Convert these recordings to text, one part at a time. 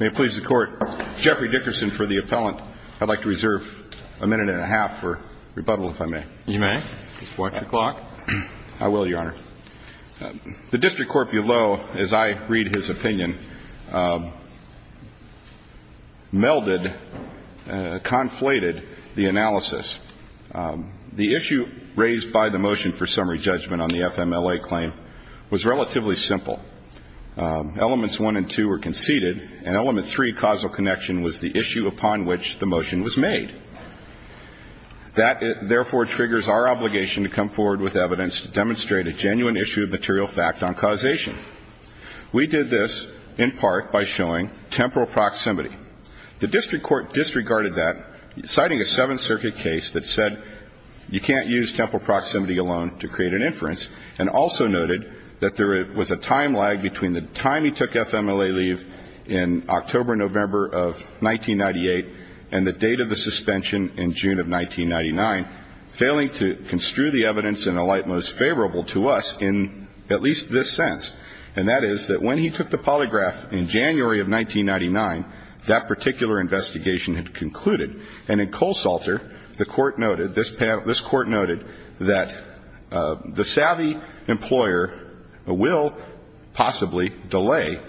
May it please the court, Jeffrey Dickerson for the appellant. I'd like to reserve a minute and a half for rebuttal if I may. You may. Just watch the clock. I will, your honor. The district court below, as I read his opinion, melded, conflated the analysis. The issue raised by the motion for summary judgment on the FMLA claim was relatively simple. Elements one and two were conceded, and element three, causal connection, was the issue upon which the motion was made. That, therefore, triggers our obligation to come forward with evidence to demonstrate a genuine issue of material fact on causation. We did this in part by showing temporal proximity. The district court disregarded that, citing a Seventh Circuit case that said you can't use temporal proximity alone to create an inference, and also noted that there was a time lag between the time he took FMLA leave in October-November of 1998 and the date of the suspension in June of 1999, failing to construe the evidence in a light most favorable to us in at least this sense, and that is that when he took the polygraph in January of 1999, that particular investigation had concluded. And in Colesalter, the court noted, this panel, this court noted that the savvy employer will possibly delay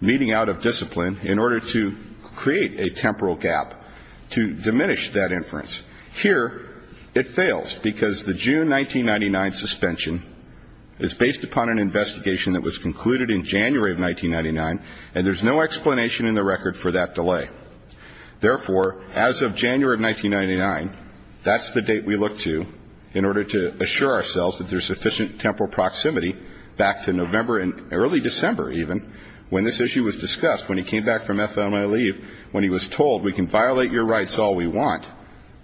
meeting out of discipline in order to create a temporal gap to diminish that inference. Here it fails because the June 1999 suspension is based upon an investigation that was concluded in January of 1999, and there's no explanation in the record for that delay. Therefore, as of January of 1999, that's the date we look to in order to assure ourselves that there's sufficient temporal proximity back to November and early December, even, when this issue was discussed, when he came back from FMLA leave, when he was told we can violate your rights all we want.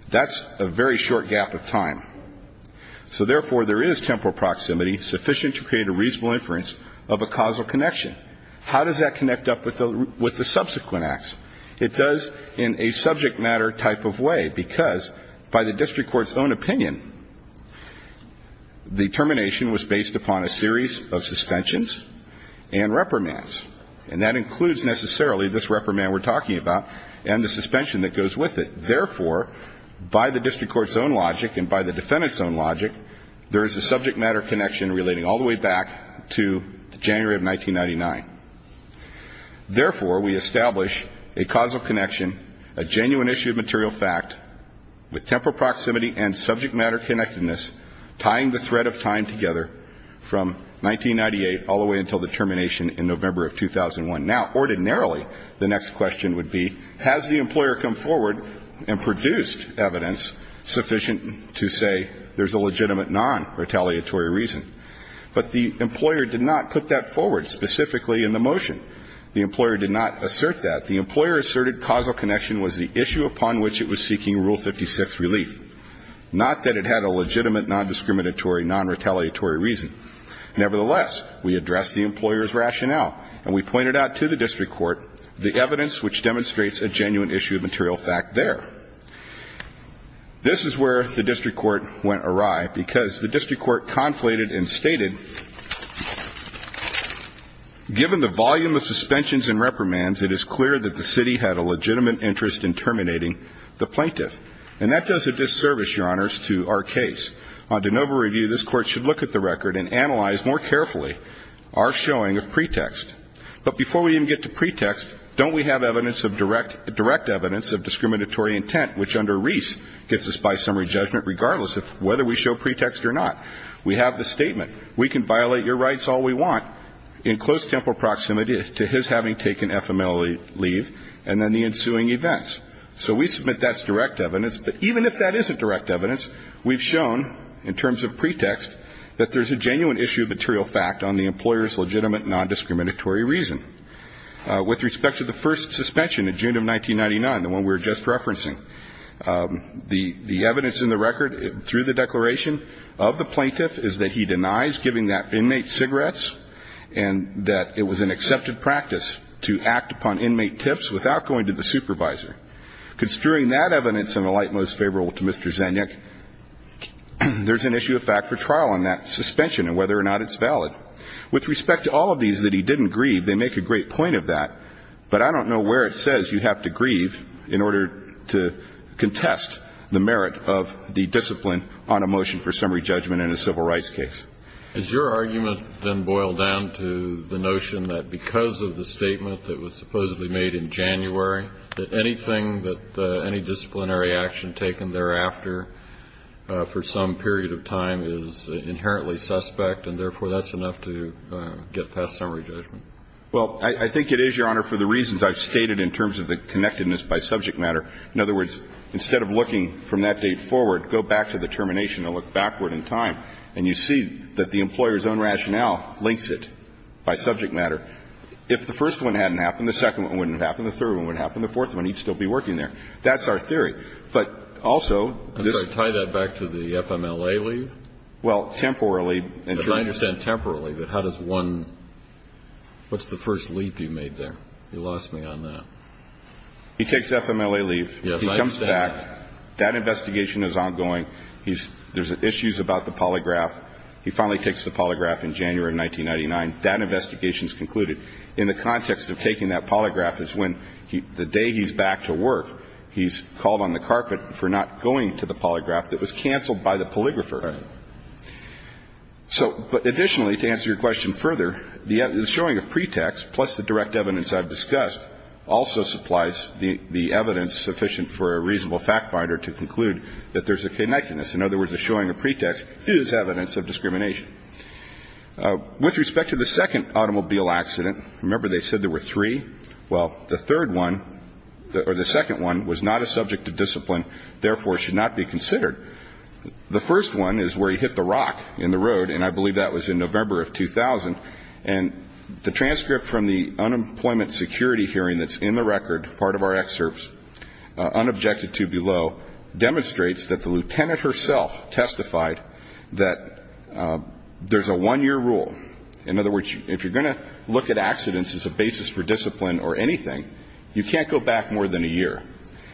That's a very short gap of time. So, therefore, there is temporal proximity sufficient to create a reasonable inference of a causal connection. How does that connect up with the subsequent acts? It does in a subject matter type of way, because by the district court's own opinion, the termination was based upon a series of suspensions and reprimands. And that includes, necessarily, this reprimand we're talking about and the suspension that goes with it. Therefore, by the district court's own logic and by the defendant's own logic, there is a subject matter connection relating all the way back to January of 1999. Therefore, we establish a causal connection, a genuine issue of material fact, with temporal proximity and subject matter connectedness, tying the thread of time together, from 1998 all the way until the termination in November of 2001. Now, ordinarily, the next question would be, has the employer come forward and produced evidence sufficient to say there's a legitimate non-retaliatory reason? But the employer did not put that forward specifically in the motion. The employer did not assert that. The employer asserted causal connection was the issue upon which it was seeking Rule 56 relief, not that it had a legitimate non-discriminatory, non-retaliatory reason. Nevertheless, we addressed the employer's rationale, and we pointed out to the district court the evidence which demonstrates a genuine issue of material fact there. This is where the district court went awry, because the district court conflated and stated, given the volume of suspensions and reprimands, it is clear that the city had a legitimate interest in terminating the plaintiff. And that does a disservice, Your Honors, to our case. On de novo review, this Court should look at the record and analyze more carefully our showing of pretext. But before we even get to pretext, don't we have evidence of direct evidence of discriminatory intent, which under Reese gets us by summary judgment regardless of whether we show pretext or not? We have the statement. We can violate your rights all we want in close temporal proximity to his having taken FMLE leave and then the ensuing events. So we submit that's direct evidence, but even if that isn't direct evidence, we've shown in terms of pretext that there's a genuine issue of material fact on the employer's legitimate non-discriminatory reason. With respect to the first suspension in June of 1999, the one we were just referencing, the evidence in the record through the declaration of the plaintiff is that he denies giving that inmate cigarettes and that it was an accepted practice to act upon inmate tips without going to the supervisor. Considering that evidence in the light most favorable to Mr. Zajnick, there's an issue of fact for trial on that suspension and whether or not it's valid. With respect to all of these that he didn't grieve, they make a great point of that, but I don't know where it says you have to grieve in order to contest the merit of the discipline on a motion for summary judgment in a civil rights case. Is your argument then boiled down to the notion that because of the statement that was supposedly made in January, that anything that any disciplinary action taken thereafter for some period of time is inherently suspect, and therefore that's enough to get past summary judgment? Well, I think it is, Your Honor, for the reasons I've stated in terms of the connectedness by subject matter. In other words, instead of looking from that date forward, go back to the termination and look backward in time, and you see that the employer's own rationale links it by subject matter. If the first one hadn't happened, the second one wouldn't have happened, the third one wouldn't have happened, the fourth one, he'd still be working there. That's our theory. But also this ---- I'm sorry. Tie that back to the FMLA leave? Well, temporarily. But I understand temporarily, but how does one ---- what's the first leap you made there? You lost me on that. He takes FMLA leave. Yes, I understand. He comes back. That investigation is ongoing. He's ---- there's issues about the polygraph. He finally takes the polygraph in January of 1999. That investigation is concluded. In the context of taking that polygraph is when the day he's back to work, he's called on the carpet for not going to the polygraph that was canceled by the polygrapher. Right. So additionally, to answer your question further, the showing of pretext plus the direct evidence I've discussed also supplies the evidence sufficient for a reasonable factfinder to conclude that there's a connectedness. In other words, the showing of pretext is evidence of discrimination. With respect to the second automobile accident, remember they said there were three? Well, the third one or the second one was not a subject of discipline, therefore, should not be considered. The first one is where he hit the rock in the road, and I believe that was in November of 2000. And the transcript from the unemployment security hearing that's in the record, part of our excerpts, unobjected to below, demonstrates that the lieutenant herself testified that there's a one-year rule. In other words, if you're going to look at accidents as a basis for discipline or anything, you can't go back more than a year.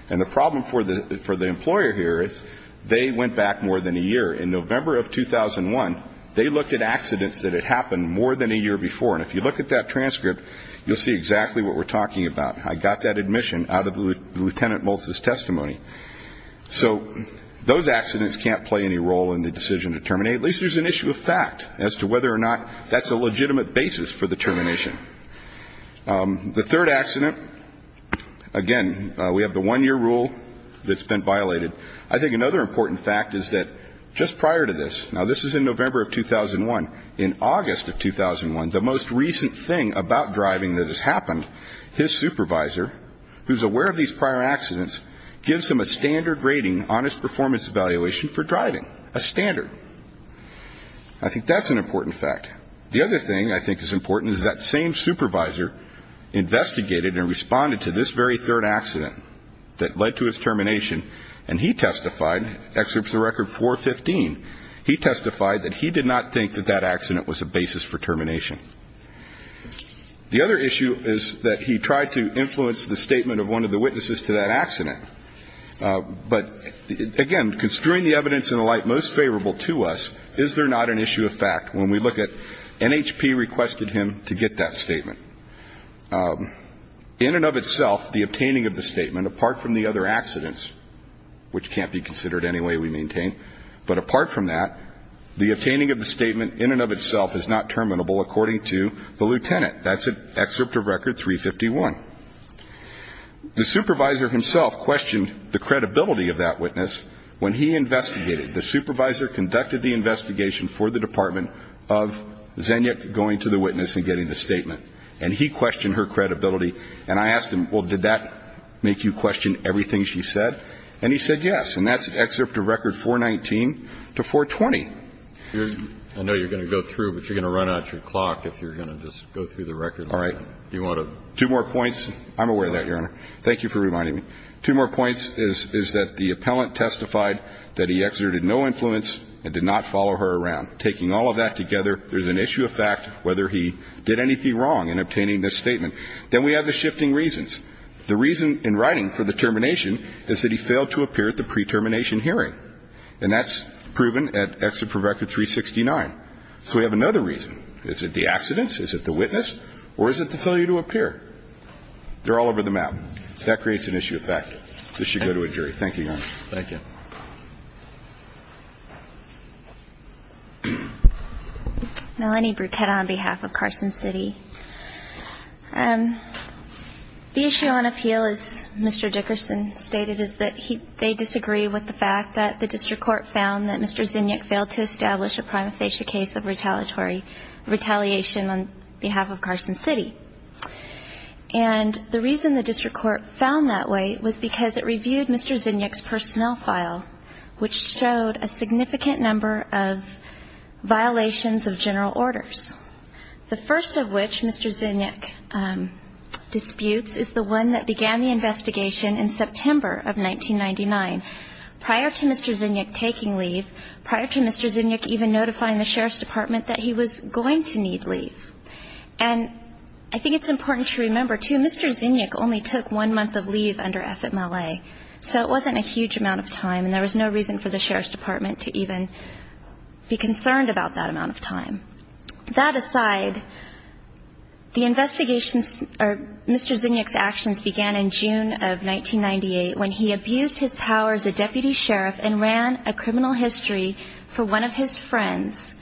And the problem for the employer here is they went back more than a year. In November of 2001, they looked at accidents that had happened more than a year before. And if you look at that transcript, you'll see exactly what we're talking about. I got that admission out of Lieutenant Moult's testimony. And at least there's an issue of fact as to whether or not that's a legitimate basis for the termination. The third accident, again, we have the one-year rule that's been violated. I think another important fact is that just prior to this, now this is in November of 2001. In August of 2001, the most recent thing about driving that has happened, his supervisor, who's aware of these prior accidents, gives him a standard rating on his performance evaluation for driving, a standard. I think that's an important fact. The other thing I think is important is that same supervisor investigated and responded to this very third accident that led to his termination, and he testified, excerpts of Record 415, he testified that he did not think that that accident was a basis for termination. The other issue is that he tried to influence the statement of one of the witnesses to that accident. But, again, construing the evidence in a light most favorable to us, is there not an issue of fact when we look at NHP requested him to get that statement? In and of itself, the obtaining of the statement, apart from the other accidents, which can't be considered any way we maintain, but apart from that, the obtaining of the statement in and of itself is not terminable according to the lieutenant. That's an excerpt of Record 351. The supervisor himself questioned the credibility of that witness when he investigated. The supervisor conducted the investigation for the Department of Zenyuk going to the witness and getting the statement, and he questioned her credibility. And I asked him, well, did that make you question everything she said? And he said yes, and that's an excerpt of Record 419 to 420. I know you're going to go through, but you're going to run out your clock if you're going to just go through the record. All right. Two more points. I'm aware of that, Your Honor. Thank you for reminding me. Two more points is that the appellant testified that he exerted no influence and did not follow her around. Taking all of that together, there's an issue of fact whether he did anything wrong in obtaining this statement. Then we have the shifting reasons. The reason in writing for the termination is that he failed to appear at the pre-termination hearing, and that's proven at Excerpt from Record 369. So we have another reason. Is it the accidents? Is it the witness? Or is it the failure to appear? They're all over the map. That creates an issue of fact. This should go to a jury. Thank you, Your Honor. Thank you. Melanie Bruchetta on behalf of Carson City. The issue on appeal, as Mr. Dickerson stated, is that they disagree with the fact that the district court found that Mr. Zinyak failed to establish a prima facie case of retaliation on behalf of Carson City. And the reason the district court found that way was because it reviewed Mr. Zinyak's personnel file, which showed a significant number of violations of general orders. The first of which, Mr. Zinyak disputes, is the one that began the investigation in September of 1999. Prior to Mr. Zinyak taking leave, prior to Mr. Zinyak even notifying the sheriff's department that he was going to need leave. And I think it's important to remember, too, Mr. Zinyak only took one month of leave under FMLA. So it wasn't a huge amount of time, and there was no reason for the sheriff's department to even be concerned about that amount of time. That aside, the investigations or Mr. Zinyak's actions began in June of 1998, when he abused his power as a deputy sheriff and ran a criminal history for one of his friends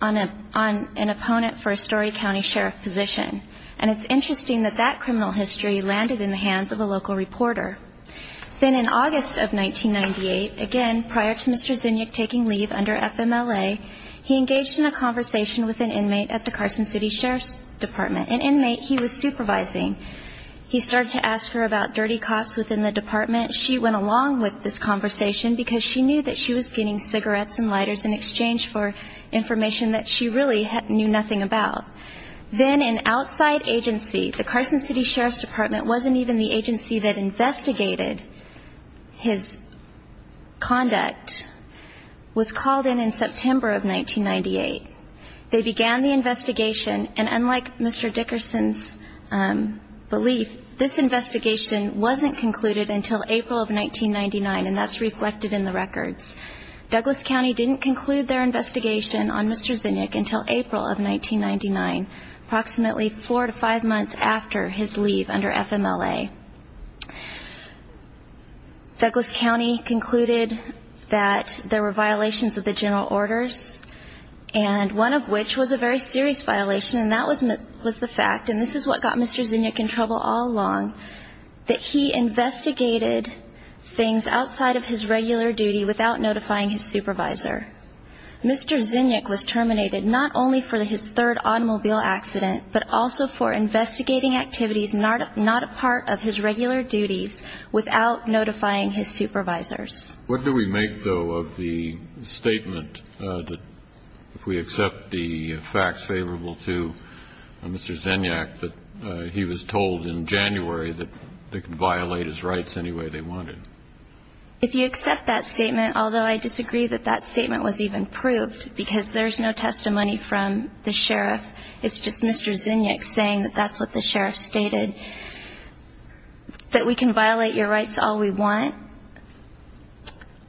on an opponent for a Story County sheriff position. And it's interesting that that criminal history landed in the hands of a local reporter. Then in August of 1998, again, prior to Mr. Zinyak taking leave under FMLA, he engaged in a conversation with an inmate at the Carson City Sheriff's Department, an inmate he was supervising. He started to ask her about dirty cops within the department. She went along with this conversation because she knew that she was getting cigarettes and lighters in exchange for information that she really knew nothing about. Then an outside agency, the Carson City Sheriff's Department wasn't even the agency that investigated his conduct, was called in in September of 1998. They began the investigation, and unlike Mr. Dickerson's belief, this investigation wasn't concluded until April of 1999, and that's reflected in the records. Douglas County didn't conclude their investigation on Mr. Zinyak until April of 1999, approximately four to five months after his leave under FMLA. Douglas County concluded that there were violations of the general orders, and one of which was a very serious violation, and that was the fact, and this is what got Mr. Zinyak in trouble all along, that he investigated things outside of his regular duty without notifying his supervisor. Mr. Zinyak was terminated not only for his third automobile accident, but also for What do we make, though, of the statement that, if we accept the facts favorable to Mr. Zinyak, that he was told in January that they could violate his rights any way they wanted? If you accept that statement, although I disagree that that statement was even proved, because there's no testimony from the sheriff, it's just Mr. Zinyak saying that that's what the sheriff stated. That we can violate your rights all we want.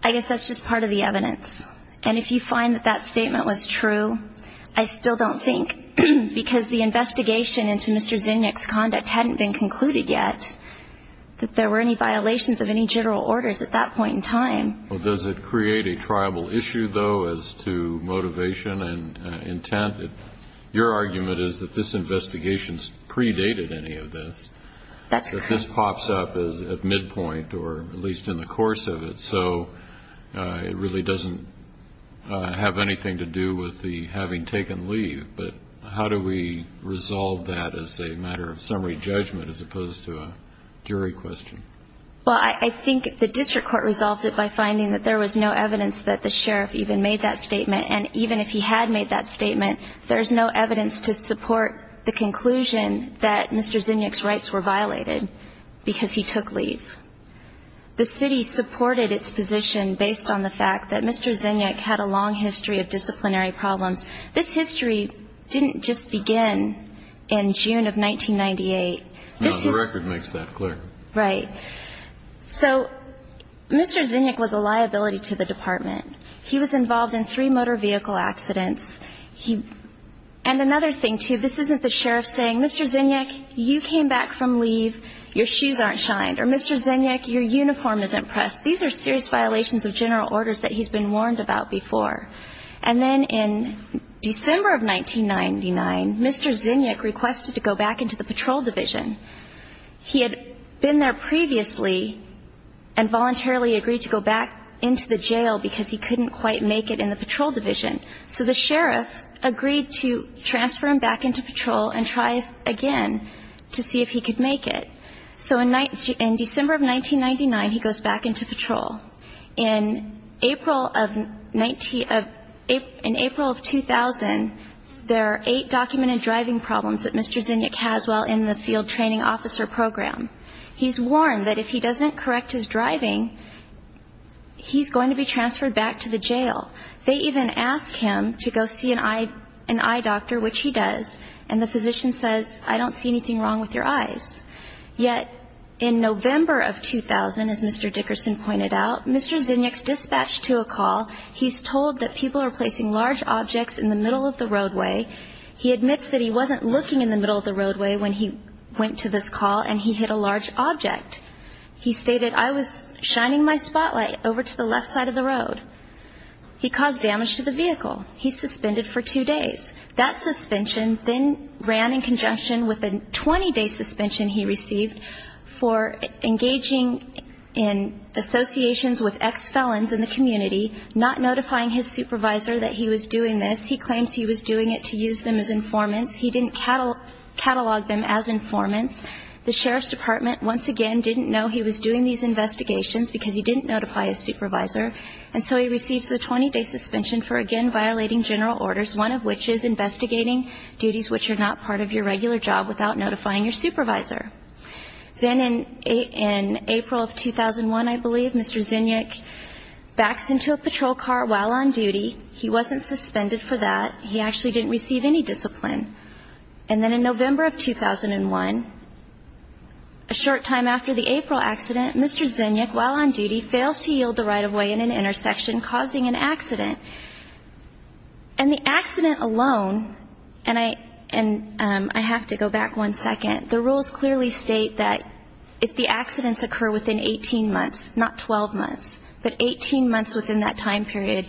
I guess that's just part of the evidence. And if you find that that statement was true, I still don't think, because the investigation into Mr. Zinyak's conduct hadn't been concluded yet, that there were any violations of any general orders at that point in time. Well, does it create a tribal issue, though, as to motivation and intent? Your argument is that this investigation predated any of this. That's correct. That this pops up at midpoint, or at least in the course of it. So it really doesn't have anything to do with the having taken leave. But how do we resolve that as a matter of summary judgment as opposed to a jury question? Well, I think the district court resolved it by finding that there was no evidence that the sheriff even made that statement. And even if he had made that statement, there's no evidence to support the conclusion that Mr. Zinyak's rights were violated because he took leave. The city supported its position based on the fact that Mr. Zinyak had a long history of disciplinary problems. This history didn't just begin in June of 1998. No, the record makes that clear. Right. So Mr. Zinyak was a liability to the department. He was involved in three motor vehicle accidents. And another thing, too, this isn't the sheriff saying, Mr. Zinyak, you came back from leave, your shoes aren't shined. Or, Mr. Zinyak, your uniform isn't pressed. These are serious violations of general orders that he's been warned about before. And then in December of 1999, Mr. Zinyak requested to go back into the patrol division. He had been there previously and voluntarily agreed to go back into the jail because he couldn't quite make it in the patrol division. So the sheriff agreed to transfer him back into patrol and try again to see if he could make it. So in December of 1999, he goes back into patrol. In April of 2000, there are eight documented driving problems that Mr. Zinyak has while in the field training officer program. He's warned that if he doesn't correct his driving, he's going to be transferred back to the jail. They even ask him to go see an eye doctor, which he does, and the physician says, I don't see anything wrong with your eyes. Yet in November of 2000, as Mr. Dickerson pointed out, Mr. Zinyak's dispatched to a call. He's told that people are placing large objects in the middle of the roadway. He admits that he wasn't looking in the middle of the roadway when he went to this call and he hit a large object. He stated, I was shining my spotlight over to the left side of the road. He caused damage to the vehicle. He's suspended for two days. That suspension then ran in conjunction with a 20-day suspension he received for engaging in associations with ex-felons in the community, not notifying his supervisor that he was doing this. He claims he was doing it to use them as informants. He didn't catalog them as informants. The sheriff's department, once again, didn't know he was doing these investigations because he didn't notify his supervisor, and so he receives a 20-day suspension for, again, violating general orders, one of which is investigating duties which are not part of your regular job without notifying your supervisor. Then in April of 2001, I believe, Mr. Zinyak backs into a patrol car while on duty. He wasn't suspended for that. He actually didn't receive any discipline. And then in November of 2001, a short time after the April accident, Mr. Zinyak, while on duty, fails to yield the right-of-way in an intersection, causing an accident. And the accident alone, and I have to go back one second, the rules clearly state that if the accidents occur within 18 months, not 12 months, but 18 months within that time period,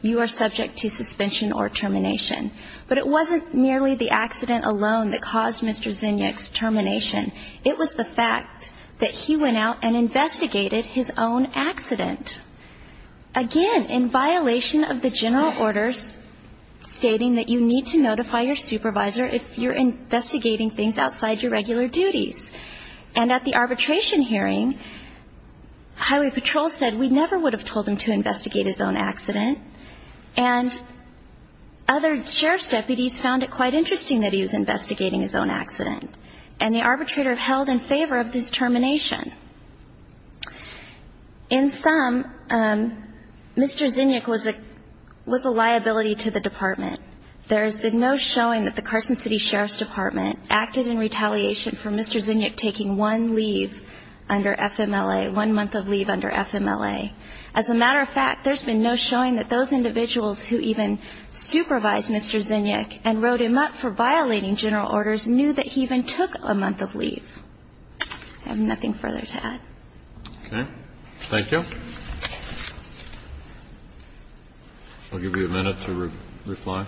you are subject to suspension or termination. But it wasn't merely the accident alone that caused Mr. Zinyak's termination. It was the fact that he went out and investigated his own accident, again, in violation of the general orders stating that you need to notify your supervisor if you're investigating things outside your regular duties. And at the arbitration hearing, highway patrol said, we never would have told him to investigate his own accident. And other sheriff's deputies found it quite interesting that he was investigating his own accident. And the arbitrator held in favor of his termination. In sum, Mr. Zinyak was a liability to the department. There has been no showing that the Carson City Sheriff's Department acted in retaliation for Mr. Zinyak taking one leave under FMLA, one month of leave under FMLA. As a matter of fact, there's been no showing that those individuals who even supervised Mr. Zinyak and wrote him up for violating general orders knew that he even took a month of leave. I have nothing further to add. Okay. Thank you. I'll give you a minute to reply.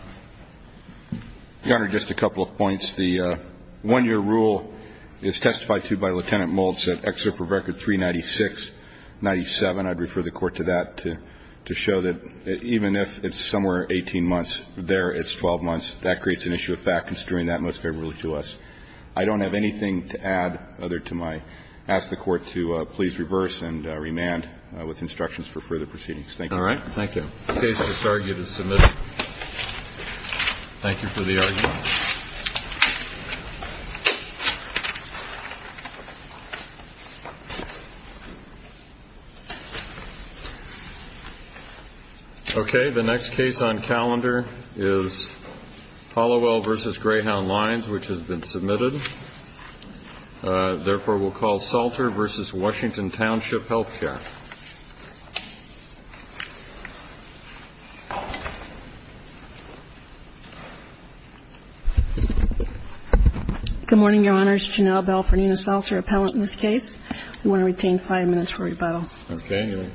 Your Honor, just a couple of points. The one-year rule is testified to by Lieutenant Moultz at Excerpt for Record 39697. I'd refer the Court to that to show that even if it's somewhere 18 months, there it's 12 months. That creates an issue of fact. I'm assuring that most favorably to us. I don't have anything to add other to my ask the Court to please reverse and remand with instructions for further proceedings. Thank you. Thank you. The case disargued is submitted. Thank you for the argument. Okay. The next case on calendar is Hallowell v. Greyhound Lines, which has been submitted. Therefore, we'll call Salter v. Washington Township Health Care. Good morning, Your Honor. It's Janelle Bell for Nina Salter, appellant in this case. We want to retain five minutes for rebuttal. Okay. You'll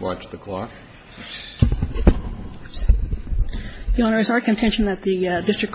watch the clock. Your Honor, it's our contention that the district court is not in favor of the